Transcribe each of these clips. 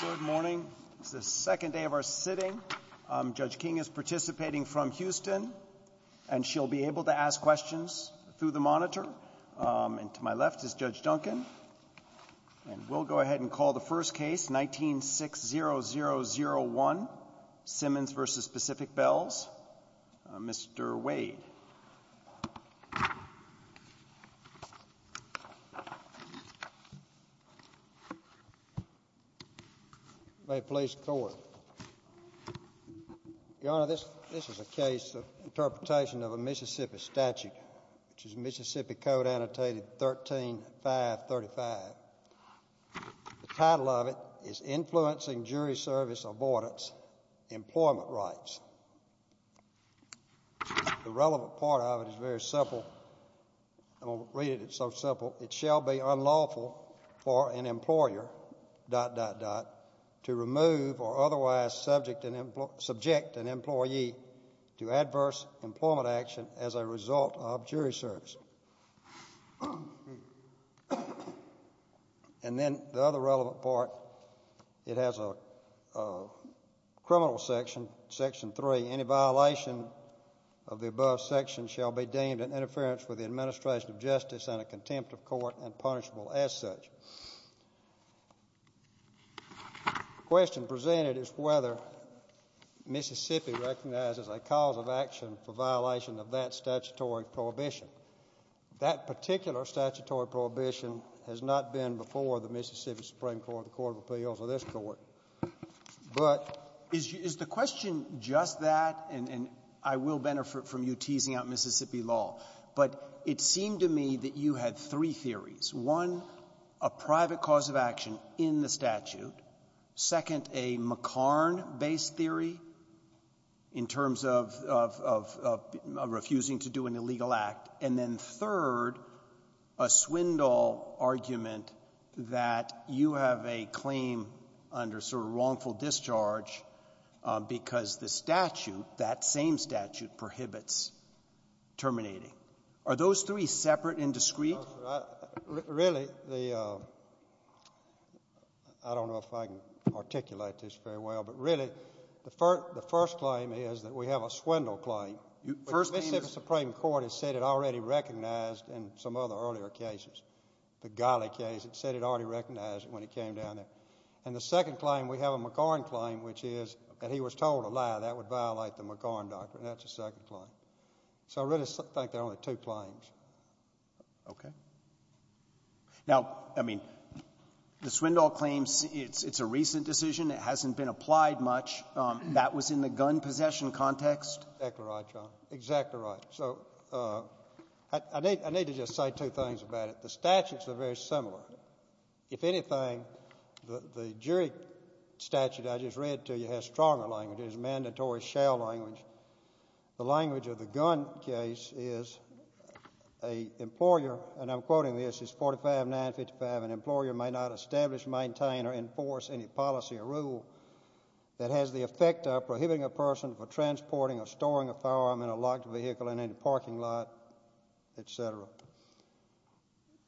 Good morning. It's the second day of our sitting. Judge King is participating from Houston and she'll be able to ask questions through the monitor. And to my left is Judge Duncan. And we'll go ahead and call the first case, 19-60001, Simmons v. Pacific Bells. Mr. Wade. May it please the Court. Your Honor, this is a case of interpretation of a Mississippi statute, which is Mississippi Code Annotated 13-535. The title of it is Influencing Jury Service Abordance Employment Rights. The relevant part of it is very clear. It states that the statute is intended to remove or otherwise subject an employee to adverse employment action as a result of jury service. And then the other relevant part, it has a criminal section, Section 3. Any violation of the above section shall be deemed an interference with the administration of justice and a contempt of court and punishable as such. The question presented is whether Mississippi recognizes a cause of action for violation of that statutory prohibition. That particular statutory prohibition has not been before the Mississippi Supreme Court, the court of appeals, or this Court. But is the question just that? And I will benefit from you teasing out Mississippi law, but it seemed to me that you had three theories, one, a private cause of action in the statute, second, a McCarn-based theory in terms of refusing to do an illegal act, and then third, a Swindoll argument that you have a claim under sort of wrongful discharge because the statute, that same statute, prohibits terminating. Are those three separate and discrete? Really, the — I don't know if I can articulate this very well, but really, the first claim is that we have a Swindoll claim, which Mississippi Supreme Court has said it already recognized in some other earlier cases. The Ghali case, it said it already recognized it when it came down there. And the second claim, we have a McCarn claim, which is that he was told a lie. That would violate the McCarn doctrine. That's the second claim. Okay. Now, I mean, the Swindoll claim, it's a recent decision. It hasn't been applied much. That was in the gun possession context. Exactly right, John. Exactly right. So I need to just say two things about it. The statutes are very similar. If anything, the jury statute I just read to you has stronger language. It's a mandatory shell language. The language of the gun case is a employer — and I'm quoting this, it's 45955 — an employer may not establish, maintain, or enforce any policy or rule that has the effect of prohibiting a person from transporting or storing a firearm in a locked vehicle in any parking lot, et cetera.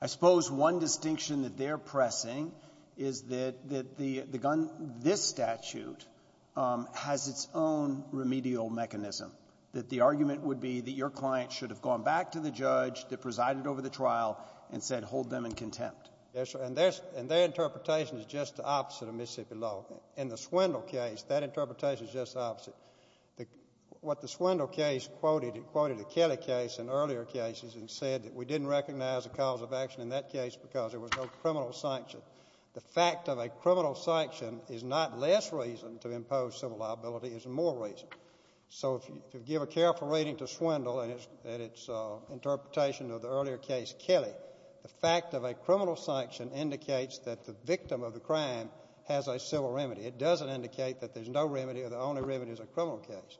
I suppose one distinction that they're pressing is that the gun — this statute has its own remedial mechanism, that the argument would be that your client should have gone back to the judge that presided over the trial and said, hold them in contempt. Yes, sir. And their interpretation is just the opposite of Mississippi law. In the Swindoll case, that interpretation is just the opposite. What the Swindoll case quoted, it quoted the Kelly case and earlier cases and said that we didn't recognize a cause of action in that case because there was no criminal sanction. The fact of a criminal sanction is not less reason to impose civil liability, it's more reason. So if you give a careful reading to Swindoll and its interpretation of the earlier case, Kelly, the fact of a criminal sanction indicates that the victim of the crime has a civil remedy. It doesn't indicate that there's no remedy or the only remedy is a criminal case.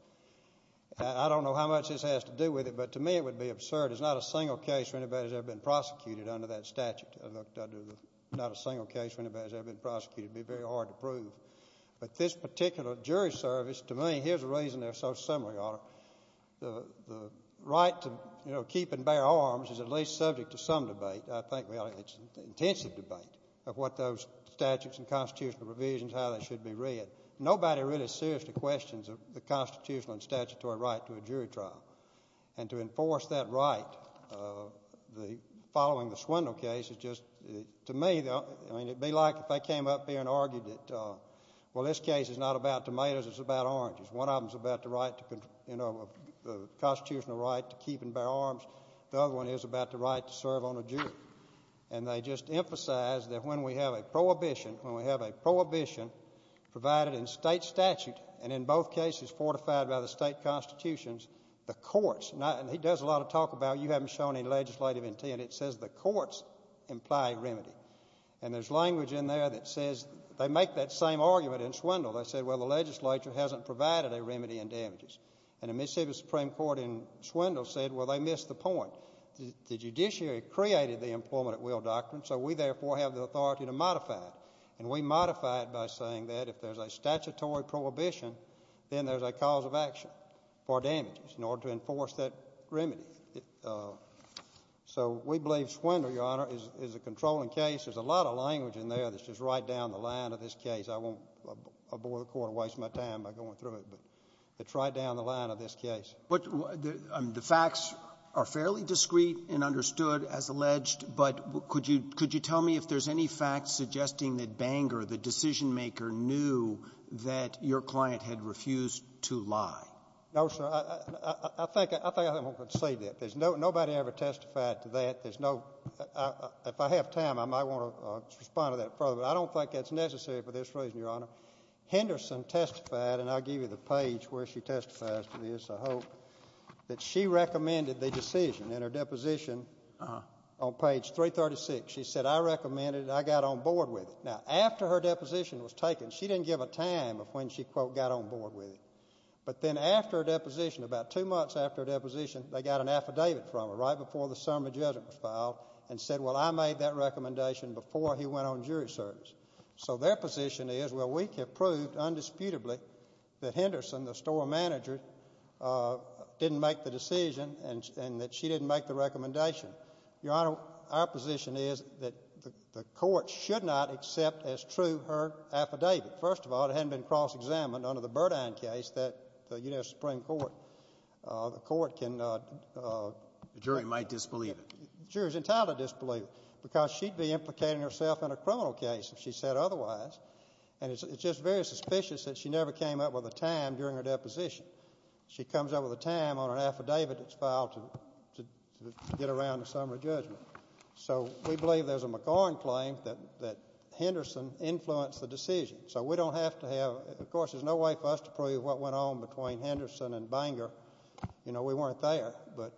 I don't know how much this has to do with it, but to me it would be absurd. It's not a single case where anybody's ever been prosecuted under that statute. Not a single case where anybody's ever been prosecuted would be very hard to prove. But this particular jury service, to me, here's the reason they're so similar, Your Honor. The right to keep and bear arms is at least subject to some debate. I think it's an intensive debate of what those statutes and constitutional provisions, how they should be read. Nobody really seriously questions the constitutional and statutory right to a jury trial. And to enforce that right following the Swindoll case is just, to me, it would be like if they came up here and argued that, well, this case is not about tomatoes, it's about oranges. One of them is about the constitutional right to keep and bear arms. The other one is about the right to serve on a jury. And they just emphasize that when we have a prohibition, when we have a prohibition provided in state statute and in both cases fortified by the state constitutions, the courts, and he does a lot of talk about you haven't shown any legislative intent. It says the courts imply remedy. And there's language in there that says they make that same argument in Swindoll. They say, well, the legislature hasn't provided a remedy in damages. And the Mississippi Supreme Court in Swindoll said, well, they missed the point. The judiciary created the employment at will doctrine, so we therefore have the authority to modify it. And we modify it by saying that if there's a statutory prohibition, then there's a cause of action for damages in order to enforce that remedy. So we believe Swindoll, Your Honor, is a controlling case. There's a lot of language in there that's just right down the line of this case. I won't abhor the Court and waste my time by going through it, but it's right down the line of this case. The facts are fairly discreet and understood as alleged, but could you tell me if there's any facts suggesting that Bangor, the decision-maker, knew that your client had refused to lie? No, sir. I think I'm going to concede that. There's nobody ever testified to that. There's no — if I have time, I might want to respond to that further. But I don't think that's necessary for this reason, Your Honor. Henderson testified, and I'll give you the page where she testifies to this, I hope, that she recommended the decision in her deposition on page 336. She said, I recommended it, I got on board with it. Now, after her deposition was taken, she didn't give a time of when she, quote, got on board with it. But then after her deposition, about two months after her deposition, they got an affidavit from her right before the summary judgment was filed and said, well, I made that recommendation before he went on jury service. So their position is, well, we have proved undisputably that Henderson, the store manager, didn't make the decision and that she didn't make the recommendation. Your Honor, our position is that the court should not accept as true her affidavit. First of all, it hadn't been cross-examined under the Burdine case that the U.S. Supreme Court, the court can— The jury might disbelieve it. The jury's entitled to disbelieve it because she'd be implicating herself in a criminal case if she said otherwise. And it's just very suspicious that she never came up with a time during her deposition. She comes up with a time on an affidavit that's filed to get around the summary judgment. So we believe there's a McCormick claim that Henderson influenced the decision. So we don't have to have—of course, there's no way for us to prove what went on between Henderson and Banger. You know, we weren't there. But—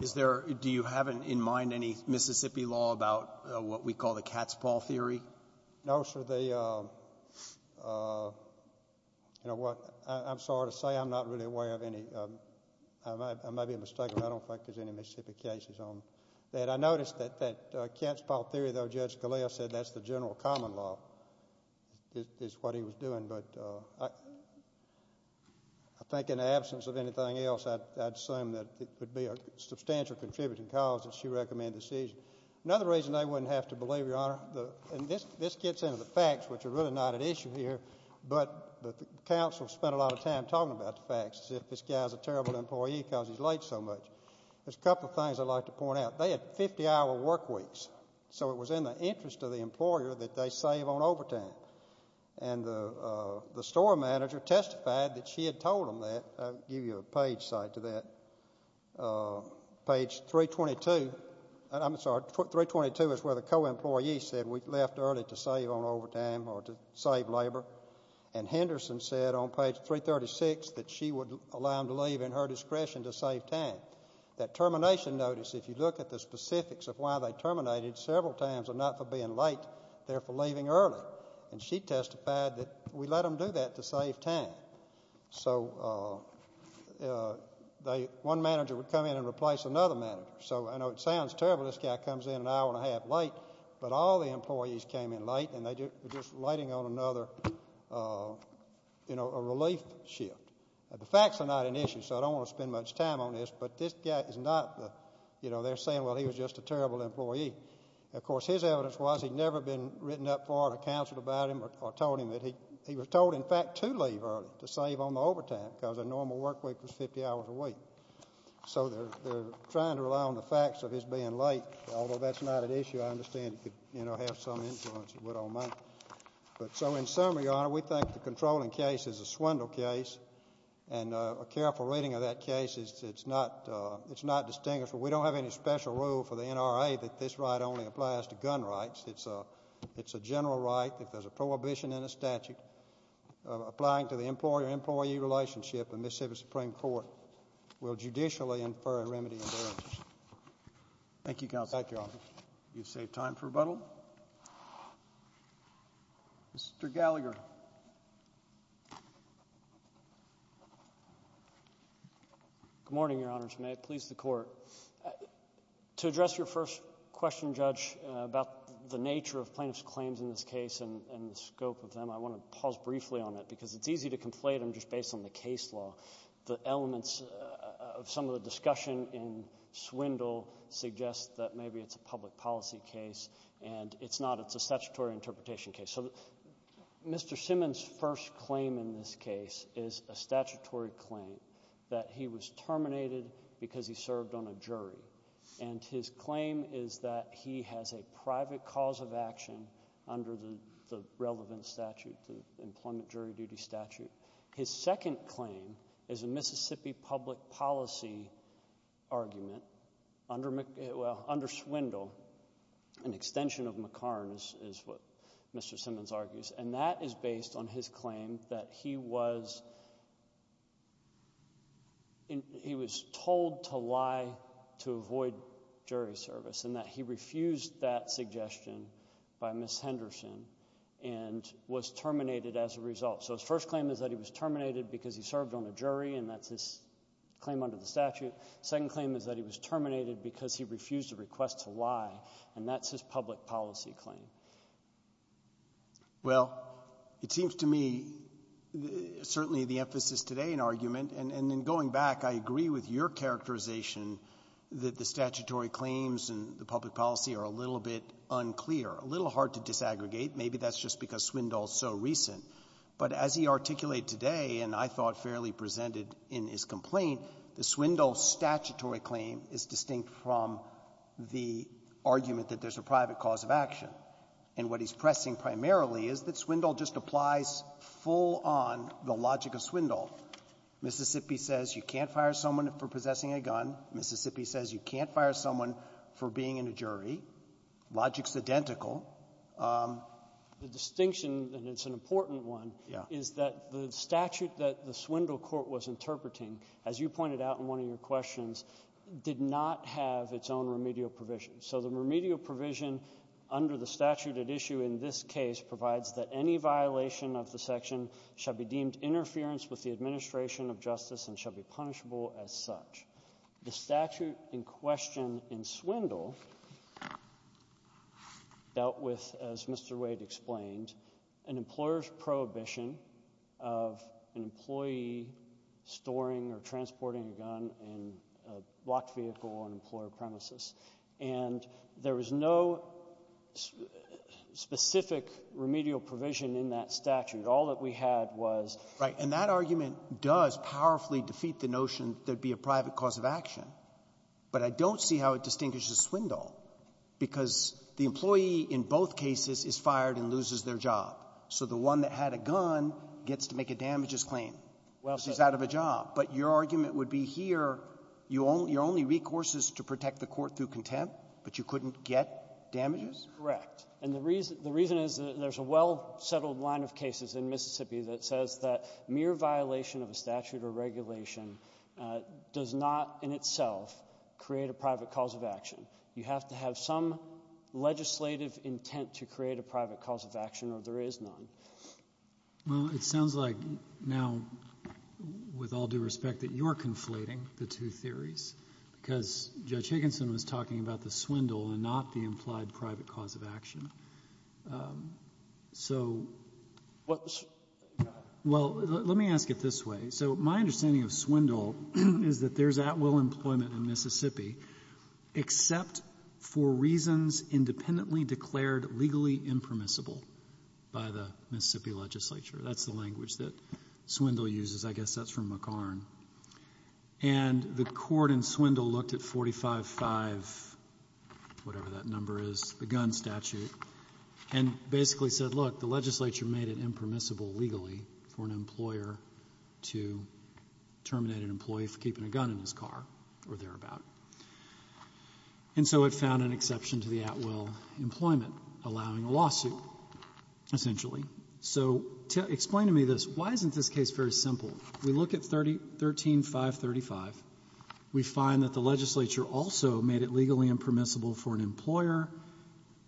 Is there—do you have in mind any Mississippi law about what we call the cat's paw theory? No, sir. You know what? I'm sorry to say I'm not really aware of any. I may be mistaken. I don't think there's any Mississippi cases on that. I noticed that cat's paw theory, though, Judge Scalia said that's the general common law, is what he was doing. But I think in the absence of anything else, I'd assume that it would be a substantial contributing cause that she recommended the decision. Another reason I wouldn't have to believe, Your Honor—and this gets into the facts, which are really not at issue here, but the counsel spent a lot of time talking about the facts as if this guy's a terrible employee because he's late so much. There's a couple of things I'd like to point out. They had 50-hour work weeks. So it was in the interest of the employer that they save on overtime. And the store manager testified that she had told him that. I'll give you a page cite to that. Page 322. I'm sorry, 322 is where the co-employee said we left early to save on overtime or to save labor. And Henderson said on page 336 that she would allow him to leave in her discretion to save time. That termination notice, if you look at the specifics of why they terminated, several times are not for being late, they're for leaving early. And she testified that we let them do that to save time. So one manager would come in and replace another manager. So I know it sounds terrible, this guy comes in an hour and a half late, but all the employees came in late, and they were just waiting on another, you know, a relief shift. The facts are not an issue, so I don't want to spend much time on this, but this guy is not the, you know, they're saying, well, he was just a terrible employee. Of course, his evidence was he'd never been written up for or counseled about him or told him that. He was told, in fact, to leave early to save on the overtime because a normal work week was 50 hours a week. So they're trying to rely on the facts of his being late, although that's not an issue. I understand it could, you know, have some influence. But so in summary, Your Honor, we think the controlling case is a swindle case, and a careful reading of that case is it's not distinguishable. We don't have any special rule for the NRA that this right only applies to gun rights. It's a general right. If there's a prohibition in the statute applying to the employer-employee relationship, the Mississippi Supreme Court will judicially infer a remedy in their interest. Thank you, Counsel. Thank you, Officer. You've saved time for rebuttal. Mr. Gallagher. Good morning, Your Honors. May it please the Court. To address your first question, Judge, about the nature of plaintiffs' claims in this case and the scope of them, I want to pause briefly on it because it's easy to conflate them just based on the case law. The elements of some of the discussion in Swindle suggest that maybe it's a public policy case, and it's not. It's a statutory interpretation case. So Mr. Simmons' first claim in this case is a statutory claim that he was terminated because he served on a jury. And his claim is that he has a private cause of action under the relevant statute, the Employment Jury Duty Statute. His second claim is a Mississippi public policy argument under Swindle. An extension of McCarn is what Mr. Simmons argues, and that is based on his claim that he was told to lie to avoid jury service and that he refused that suggestion by Ms. Henderson and was terminated as a result. So his first claim is that he was terminated because he served on a jury, and that's his claim under the statute. His second claim is that he was terminated because he refused a request to lie, and that's his public policy claim. Well, it seems to me certainly the emphasis today in argument, and in going back, I agree with your characterization that the statutory claims and the public policy are a little bit unclear, a little hard to disaggregate. Maybe that's just because Swindle is so recent. But as he articulated today, and I thought fairly presented in his complaint, the Swindle statutory claim is distinct from the argument that there's a private cause of action. And what he's pressing primarily is that Swindle just applies full-on the logic of Swindle. Mississippi says you can't fire someone for possessing a gun. Mississippi says you can't fire someone for being in a jury. Logic's identical. The distinction, and it's an important one, is that the statute that the Swindle court was interpreting, as you pointed out in one of your questions, did not have its own remedial provision. So the remedial provision under the statute at issue in this case provides that any violation of the section shall be deemed interference with the administration of justice and shall be punishable as such. The statute in question in Swindle dealt with, as Mr. Wade explained, an employer's prohibition of an employee storing or transporting a gun in a blocked vehicle or an employer premises. And there was no specific remedial provision in that statute. All that we had was ---- of action. But I don't see how it distinguishes Swindle, because the employee in both cases is fired and loses their job. So the one that had a gun gets to make a damages claim. This is out of a job. But your argument would be here, you only recourse is to protect the court through contempt, but you couldn't get damages? Correct. And the reason the reason is that there's a well-settled line of cases in Mississippi that says that mere violation of a statute or regulation does not in itself create a private cause of action. You have to have some legislative intent to create a private cause of action, or there is none. Well, it sounds like now, with all due respect, that you're conflating the two theories, because Judge Higginson was talking about the Swindle and not the implied private cause of action. So, well, let me ask it this way. So my understanding of Swindle is that there's at-will employment in Mississippi except for reasons independently declared legally impermissible by the Mississippi legislature. That's the language that Swindle uses. I guess that's from McCarn. And the court in Swindle looked at 45-5, whatever that number is, the gun statute, and basically said, look, the legislature made it impermissible legally for an employer to terminate an employee for keeping a gun in his car or thereabout. And so it found an exception to the at-will employment, allowing a lawsuit, essentially. So explain to me this. Why isn't this case very simple? We look at 13-535. We find that the legislature also made it legally impermissible for an employer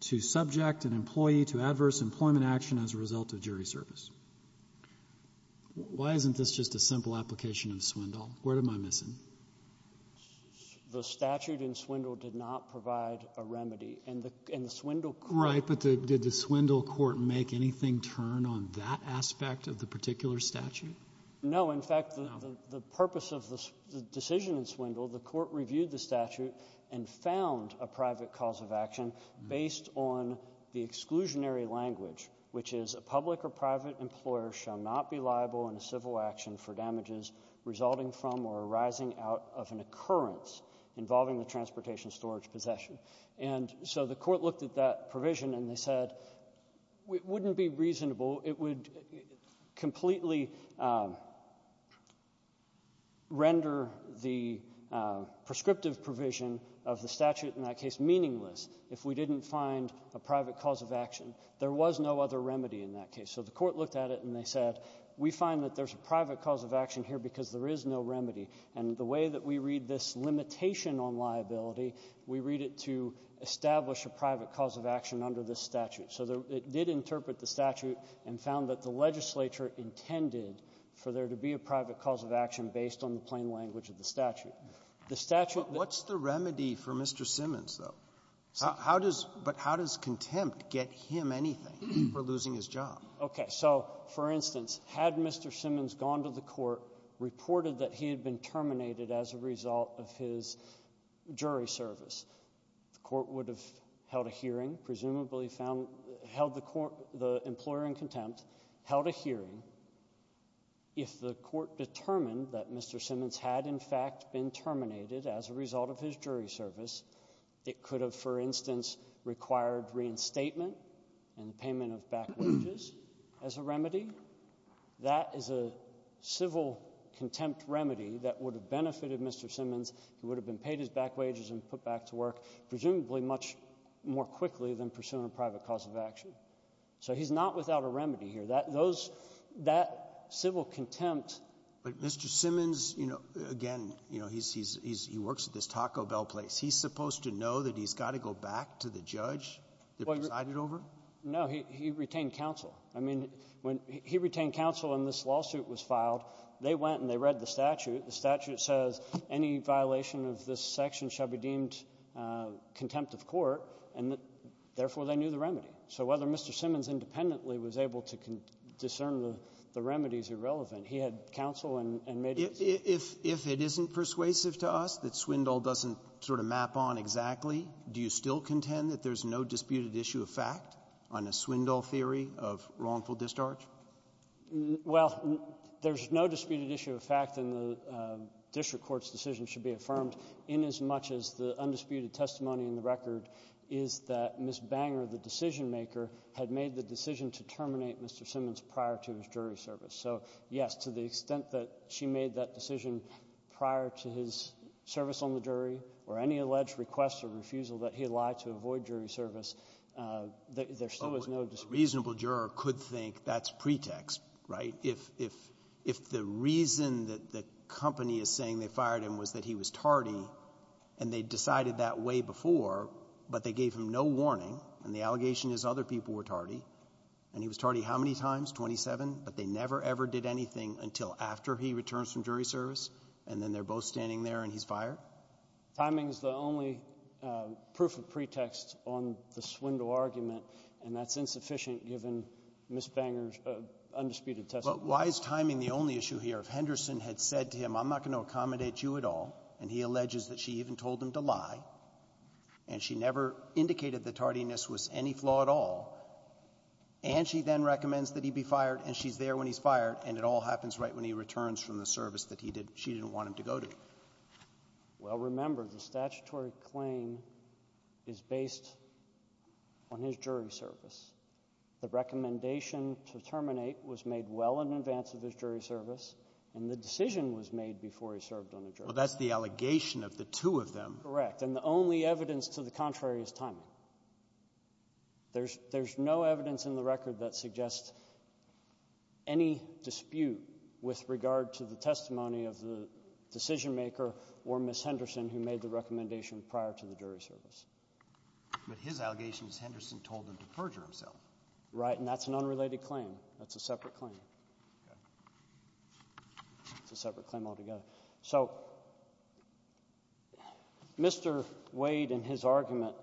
to subject an employee to adverse employment action as a result of jury service. Why isn't this just a simple application of Swindle? What am I missing? The statute in Swindle did not provide a remedy. And the Swindle court ---- Right. But did the Swindle court make anything turn on that aspect of the particular statute? No. In fact, the purpose of the decision in Swindle, the court reviewed the statute and found a private cause of action based on the exclusionary language, which is a public or private employer shall not be liable in a civil action for damages resulting from or arising out of an occurrence involving the transportation storage possession. And so the court looked at that provision and they said it wouldn't be reasonable. It would completely render the prescriptive provision of the statute in that case meaningless if we didn't find a private cause of action. There was no other remedy in that case. So the court looked at it and they said, we find that there's a private cause of action here because there is no remedy. And the way that we read this limitation on liability, we read it to establish a private cause of action under this statute. So it did interpret the statute and found that the legislature intended for there to be a private cause of action based on the plain language of the statute. The statute that ---- But what's the remedy for Mr. Simmons, though? How does ---- but how does contempt get him anything for losing his job? Okay. So, for instance, had Mr. Simmons gone to the court, reported that he had been terminated as a result of his jury service, the court would have held a hearing, presumably found, held the court, the employer in contempt, held a hearing. If the court determined that Mr. Simmons had, in fact, been terminated as a result of his jury service, it could have, for instance, required reinstatement and the payment of back wages as a remedy. That is a civil contempt remedy that would have benefited Mr. Simmons. He would have been paid his back wages and put back to work, presumably much more quickly than pursuing a private cause of action. So he's not without a remedy here. Those ---- that civil contempt ---- But Mr. Simmons, you know, again, you know, he's ---- he works at this Taco Bell place. He's supposed to know that he's got to go back to the judge that he presided over? No. He retained counsel. I mean, when he retained counsel and this lawsuit was filed, they went and they read the statute. The statute says any violation of this section shall be deemed contempt of court. And therefore, they knew the remedy. So whether Mr. Simmons independently was able to discern the remedies irrelevant, he had counsel and made his decision. If it isn't persuasive to us that Swindoll doesn't sort of map on exactly, do you still contend that there's no disputed issue of fact on a Swindoll theory of wrongful discharge? Well, there's no disputed issue of fact in the district court's decision should be affirmed inasmuch as the undisputed testimony in the record is that Ms. Banger, the decision-maker, had made the decision to terminate Mr. Simmons prior to his jury service. So, yes, to the extent that she made that decision prior to his service on the jury or any alleged request or refusal that he lied to avoid jury service, there still is no dispute. So a reasonable juror could think that's pretext, right? If the reason that the company is saying they fired him was that he was tardy and they decided that way before, but they gave him no warning, and the allegation is other people were tardy, and he was tardy how many times, 27, but they never, ever did anything until after he returns from jury service, and then they're both standing there and he's fired? Timing is the only proof of pretext on the Swindle argument, and that's insufficient given Ms. Banger's undisputed testimony. But why is timing the only issue here? If Henderson had said to him, I'm not going to accommodate you at all, and he alleges that she even told him to lie, and she never indicated that tardiness was any flaw at all, and she then recommends that he be fired, and she's there when he's fired, and it all happens right when he returns from the Well, remember, the statutory claim is based on his jury service. The recommendation to terminate was made well in advance of his jury service, and the decision was made before he served on the jury. Well, that's the allegation of the two of them. Correct. And the only evidence to the contrary is timing. There's no evidence in the record that suggests any dispute with regard to the testimony of the decision-maker or Ms. Henderson who made the recommendation prior to the jury service. But his allegation is Henderson told him to perjure himself. Right, and that's an unrelated claim. That's a separate claim. Okay. It's a separate claim altogether. So Mr. Wade and his argument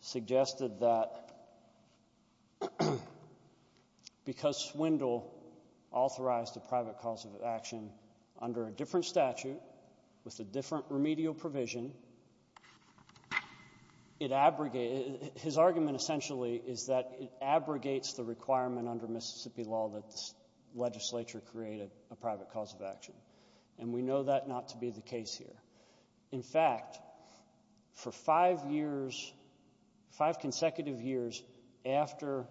suggested that because Swindle authorized a private cause of action under a different statute with a different remedial provision, his argument essentially is that it abrogates the requirement under Mississippi law that the legislature create a private cause of action. And we know that not to be the case here. In fact, for five years, five consecutive years after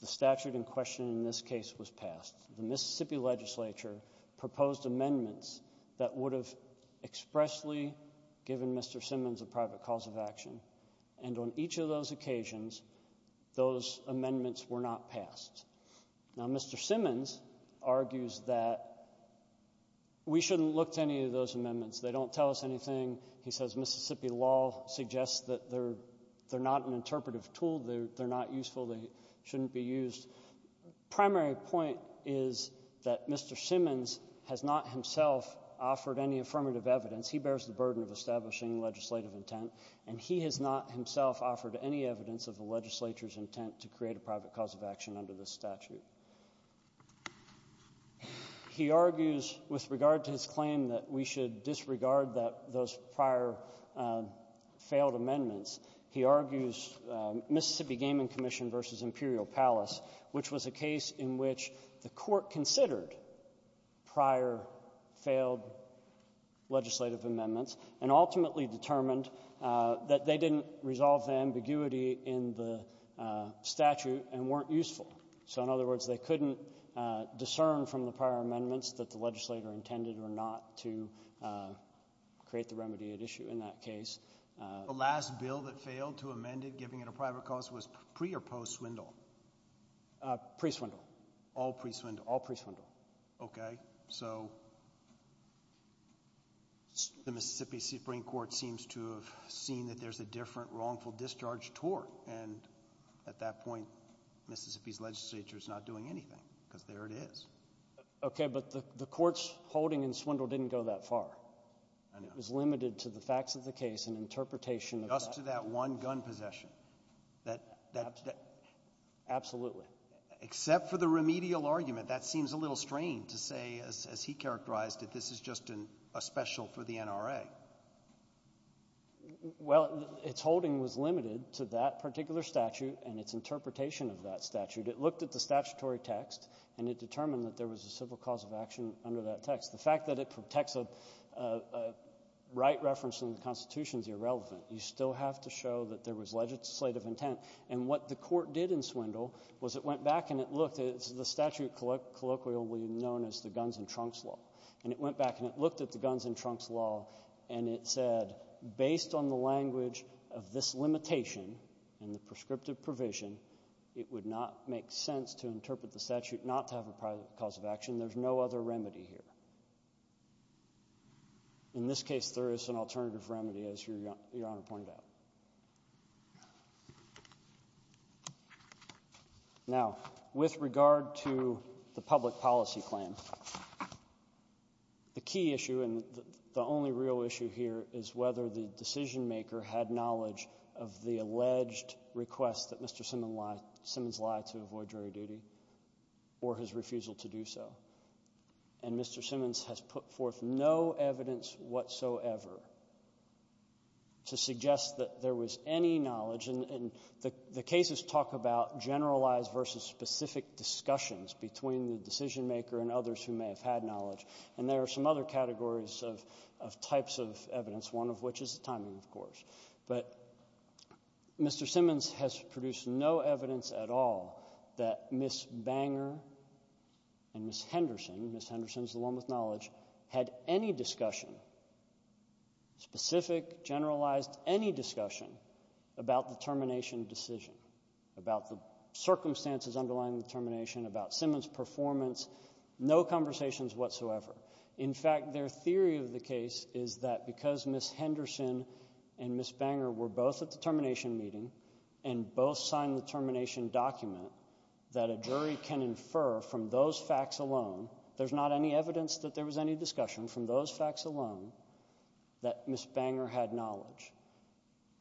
the statute in question in this case was passed, the Mississippi legislature proposed amendments that would have expressly given Mr. Simmons a private cause of action. And on each of those occasions, those amendments were not passed. Now, Mr. Simmons argues that we shouldn't look to any of those amendments. They don't tell us anything. He says Mississippi law suggests that they're not an interpretive tool. They're not useful. They shouldn't be used. Primary point is that Mr. Simmons has not himself offered any affirmative evidence. He bears the burden of establishing legislative intent, and he has not himself offered any evidence of the legislature's intent to create a private cause of action under this statute. He argues with regard to his claim that we should disregard those prior failed amendments. He argues Mississippi Gaming Commission v. Imperial Palace, which was a case in which the court considered prior failed legislative amendments and ultimately determined that they didn't resolve the ambiguity in the statute and weren't useful. So in other words, they couldn't discern from the prior amendments that the legislator intended or not to create the remedy at issue in that case. The last bill that failed to amend it, giving it a private cause, was pre or post Swindle? Pre Swindle. All pre Swindle? All pre Swindle. Okay. So the Mississippi Supreme Court seems to have seen that there's a different wrongful discharge tort, and at that point Mississippi's legislature is not doing anything because there it is. Okay, but the court's holding in Swindle didn't go that far. It was limited to the facts of the case and interpretation of that. Just to that one gun possession. Absolutely. Except for the remedial argument. That seems a little strange to say, as he characterized it, this is just a special for the NRA. Well, its holding was limited to that particular statute and its interpretation of that statute. It looked at the statutory text, and it determined that there was a civil cause of action under that text. The fact that it protects a right reference in the Constitution is irrelevant. You still have to show that there was legislative intent. And what the court did in Swindle was it went back and it looked at the statute colloquially known as the Guns and Trunks Law. And it went back and it looked at the Guns and Trunks Law, and it said, based on the language of this limitation and the prescriptive provision, it would not make sense to interpret the statute not to have a cause of action. There's no other remedy here. In this case, there is an alternative remedy, as Your Honor pointed out. Now, with regard to the public policy claim, the key issue, and the only real issue here, is whether the decisionmaker had knowledge of the alleged request that Mr. Simmons lied to avoid jury duty or his refusal to do so. And Mr. Simmons has put forth no evidence whatsoever to suggest that there was any knowledge. And the cases talk about generalized versus specific discussions between the decisionmaker and others who may have had knowledge. And there are some other categories of types of evidence, one of which is the timing, of course. But Mr. Simmons has produced no evidence at all that Ms. Banger and Ms. Henderson, Ms. Henderson is the one with knowledge, had any discussion, specific, generalized, any discussion about the termination decision, about the circumstances underlying the termination, about Simmons' performance, no conversations whatsoever. In fact, their theory of the case is that because Ms. Henderson and Ms. Banger were both at the termination meeting and both signed the termination document, that a jury can infer from those facts alone, there's not any evidence that there was any discussion from those facts alone, that Ms. Banger had knowledge.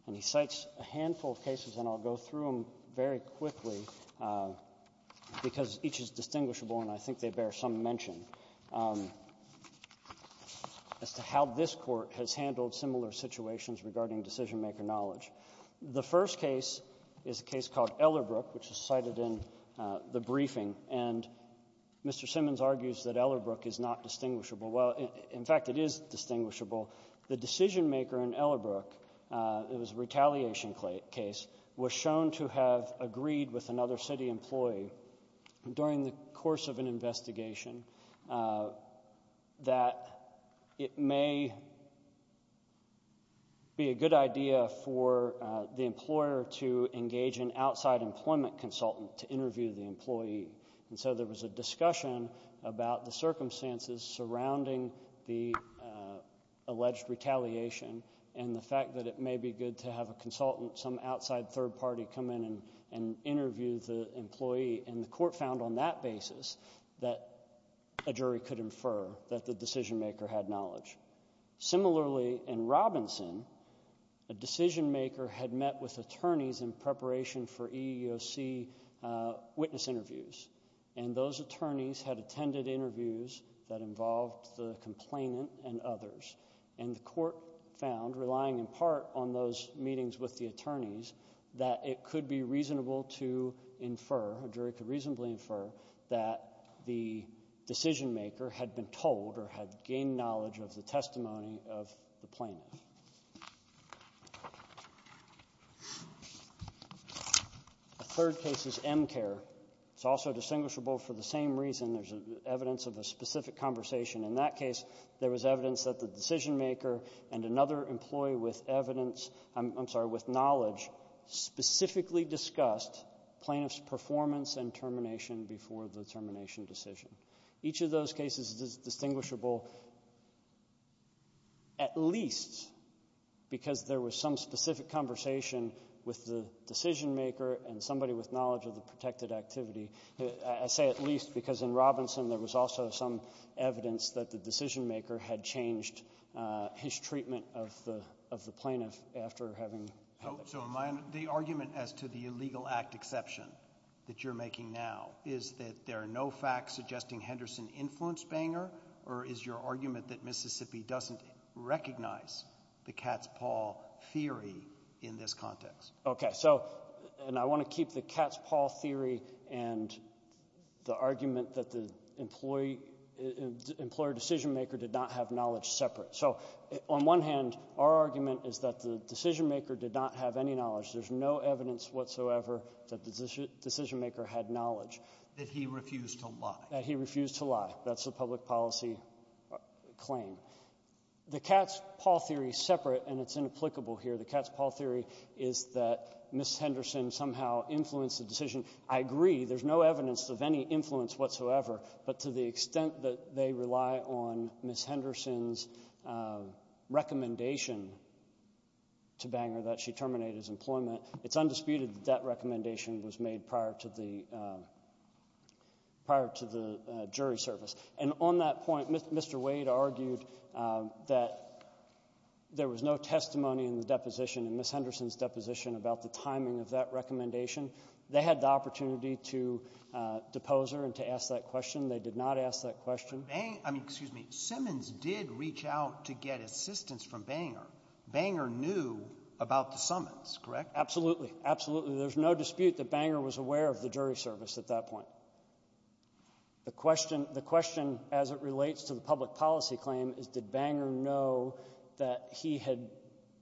And he cites a handful of cases, and I'll go through them very quickly because each is distinguishable and I think they bear some mention, as to how this Court has handled similar situations regarding decisionmaker knowledge. The first case is a case called Ellerbrook, which is cited in the briefing. And Mr. Simmons argues that Ellerbrook is not distinguishable. Well, in fact, it is distinguishable. The decisionmaker in Ellerbrook, it was a retaliation case, was shown to have agreed with another city employee. And during the course of an investigation, that it may be a good idea for the employer to engage an outside employment consultant to interview the employee. And so there was a discussion about the circumstances surrounding the alleged retaliation and the And the Court found on that basis that a jury could infer that the decisionmaker had knowledge. Similarly, in Robinson, a decisionmaker had met with attorneys in preparation for EEOC witness interviews. And those attorneys had attended interviews that involved the complainant and others. And the Court found, relying in part on those meetings with the attorneys, that it could be reasonable to infer, a jury could reasonably infer, that the decisionmaker had been told or had gained knowledge of the testimony of the plaintiff. The third case is Emcare. It's also distinguishable for the same reason. There's evidence of a specific conversation. In that case, there was evidence that the decisionmaker and another employee with evidence, I'm sorry, with knowledge, specifically discussed plaintiff's performance and termination before the termination decision. Each of those cases is distinguishable, at least because there was some specific conversation with the decisionmaker and somebody with knowledge of the protected activity. I say at least because in Robinson, there was also some evidence that the decisionmaker had changed his treatment of the plaintiff after having held it. So, in my understanding, the argument as to the illegal act exception that you're making now, is that there are no facts suggesting Henderson influenced Banger, or is your argument that Mississippi doesn't recognize the cat's paw theory in this context? Okay. So, and I want to keep the cat's paw theory and the argument that the employee decisionmaker did not have knowledge separate. So, on one hand, our argument is that the decisionmaker did not have any knowledge. There's no evidence whatsoever that the decisionmaker had knowledge. That he refused to lie. That he refused to lie. That's the public policy claim. The cat's paw theory is separate, and it's inapplicable here. The cat's paw theory is that Ms. Henderson somehow influenced the decision. I agree. There's no evidence of any influence whatsoever, but to the extent that they rely on Ms. Henderson's recommendation to Banger that she terminate his employment, it's undisputed that that recommendation was made prior to the jury service. And on that point, Mr. Wade argued that there was no testimony in the deposition, in Ms. Henderson's deposition, about the timing of that recommendation. They had the opportunity to depose her and to ask that question. They did not ask that question. I mean, excuse me. Simmons did reach out to get assistance from Banger. Banger knew about the summons, correct? Absolutely. Absolutely. There's no dispute that Banger was aware of the jury service at that point. The question, as it relates to the public policy claim, is did Banger know that he had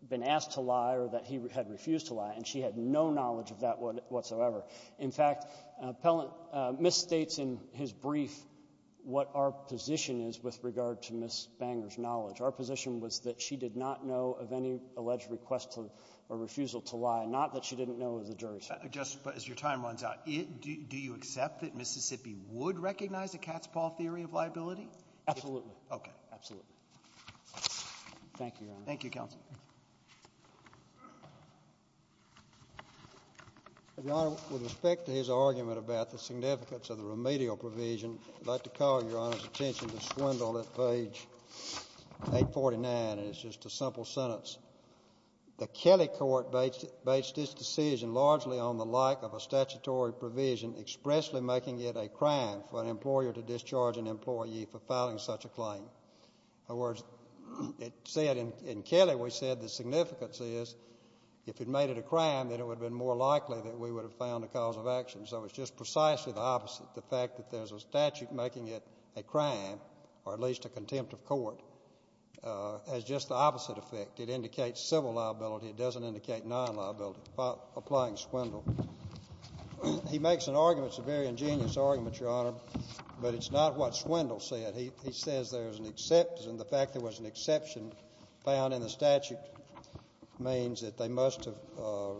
been asked to lie or that he had refused to lie, and she had no knowledge of that whatsoever. In fact, Pellant misstates in his brief what our position is with regard to Ms. Banger's knowledge. Our position was that she did not know of any alleged request or refusal to lie, not that she didn't know of the jury service. But as your time runs out, do you accept that Mississippi would recognize a cat's paw theory of liability? Absolutely. Absolutely. Thank you, Your Honor. Thank you, counsel. Your Honor, with respect to his argument about the significance of the remedial provision, I'd like to call Your Honor's attention to Swindle at page 849, and it's just a simple sentence. The Kelly court based its decision largely on the like of a statutory provision expressly making it a crime for an employer to discharge an employee for filing such a claim. In other words, it said in Kelly, we said the significance is if it made it a crime, then it would have been more likely that we would have found a cause of action. So it's just precisely the opposite, the fact that there's a statute making it a crime, or at least a contempt of court, has just the opposite effect. It indicates civil liability. It doesn't indicate non-liability, applying Swindle. He makes an argument. It's a very ingenious argument, Your Honor, but it's not what Swindle said. He says the fact there was an exception found in the statute means that they must have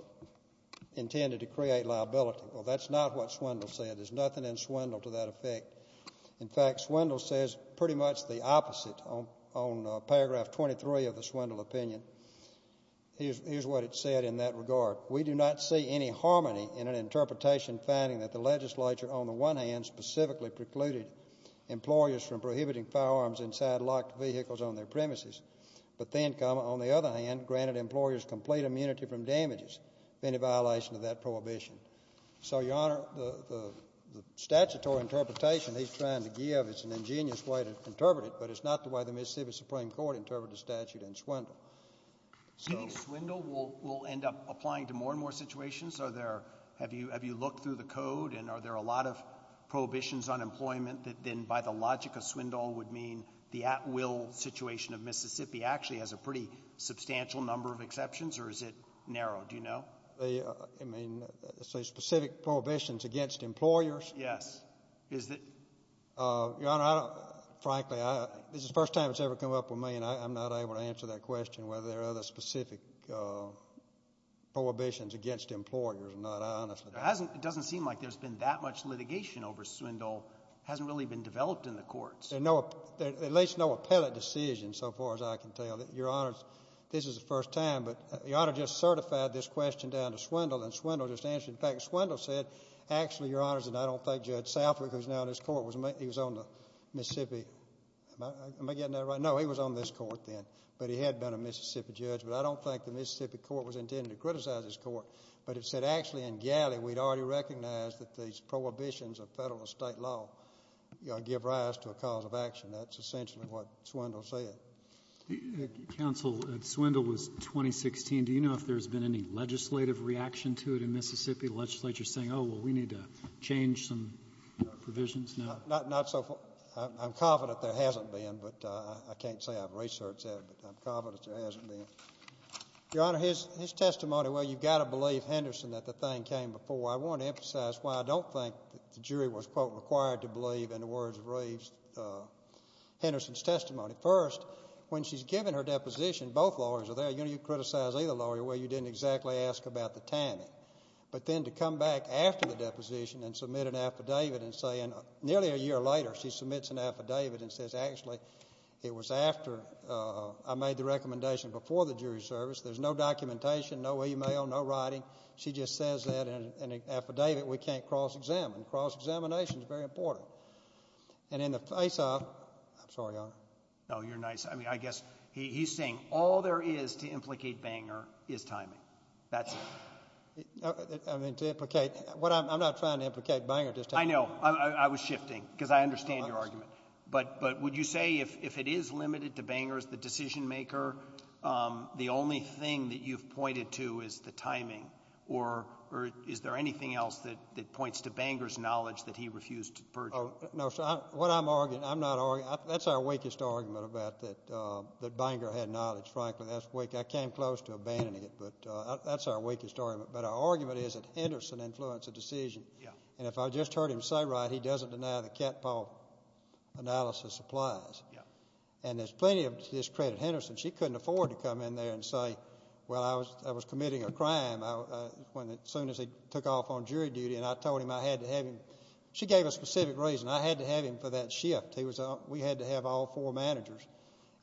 intended to create liability. Well, that's not what Swindle said. There's nothing in Swindle to that effect. In fact, Swindle says pretty much the opposite on paragraph 23 of the Swindle opinion. Here's what it said in that regard. We do not see any harmony in an interpretation finding that the legislature, on the one hand, specifically precluded employers from prohibiting firearms inside locked vehicles on their premises, but then, on the other hand, granted employers complete immunity from damages in violation of that prohibition. So, Your Honor, the statutory interpretation he's trying to give, it's an ingenious way to interpret it, but it's not the way the Mississippi Supreme Court interpreted the statute in Swindle. So Swindle will end up applying to more and more situations? Are there – have you looked through the code and are there a lot of prohibitions on employment that then, by the logic of Swindle, would mean the at-will situation of Mississippi actually has a pretty substantial number of exceptions or is it narrow? Do you know? I mean, specific prohibitions against employers? Yes. Is it – Your Honor, frankly, this is the first time it's ever come up with me and I'm not able to answer that question whether there are other specific prohibitions against employers or not. I honestly don't. It doesn't seem like there's been that much litigation over Swindle. It hasn't really been developed in the courts. There are at least no appellate decisions so far as I can tell. Your Honor, this is the first time, but Your Honor just certified this question down to Swindle and Swindle just answered it. In fact, Swindle said, actually, Your Honor, I don't think Judge Southwick, who's now in this court, he was on the Mississippi – am I getting that right? No, he was on this court then, but he had been a Mississippi judge, but I don't think the Mississippi court was intending to criticize this court. But it said, actually, in Galley we'd already recognized that these prohibitions of federal and state law give rise to a cause of action. That's essentially what Swindle said. Counsel, Swindle was 2016. Do you know if there's been any legislative reaction to it in Mississippi? The legislature is saying, oh, well, we need to change some provisions? Not so far. I'm confident there hasn't been, but I can't say I've researched that, but I'm confident there hasn't been. Your Honor, his testimony, well, you've got to believe Henderson that the thing came before. I want to emphasize why I don't think the jury was, quote, required to believe in the words of Reeves, Henderson's testimony. First, when she's given her deposition, both lawyers are there. You know, you criticize either lawyer. Well, you didn't exactly ask about the timing. But then to come back after the deposition and submit an affidavit and say, and nearly a year later she submits an affidavit and says, actually it was after I made the recommendation before the jury service. There's no documentation, no e-mail, no writing. She just says that in an affidavit we can't cross-examine. Cross-examination is very important. And in the face of it, I'm sorry, Your Honor. No, you're nice. I mean, I guess he's saying all there is to implicate Banger is timing. That's it. I mean, to implicate. I'm not trying to implicate Banger. I know. I was shifting because I understand your argument. But would you say if it is limited to Banger as the decision-maker, the only thing that you've pointed to is the timing, or is there anything else that points to Banger's knowledge that he refused to purge? No, sir. What I'm arguing, I'm not arguing. That's our weakest argument about that Banger had knowledge, frankly. I came close to abandoning it, but that's our weakest argument. But our argument is that Henderson influenced the decision. Yeah. And if I just heard him say right, he doesn't deny the cat paw analysis applies. Yeah. And there's plenty of discredit. Henderson, she couldn't afford to come in there and say, well, I was committing a crime as soon as he took off on jury duty, and I told him I had to have him. She gave a specific reason. I had to have him for that shift. We had to have all four managers,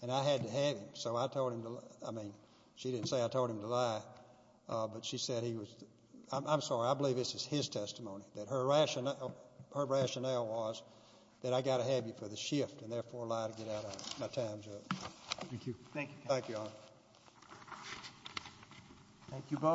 and I had to have him. So I told him to lie. I mean, she didn't say I told him to lie, but she said he was. I'm sorry. I believe this is his testimony, that her rationale was that I got to have you for the shift and therefore lie to get out of my time, Judge. Thank you. Thank you. Thank you, Your Honor. Thank you both.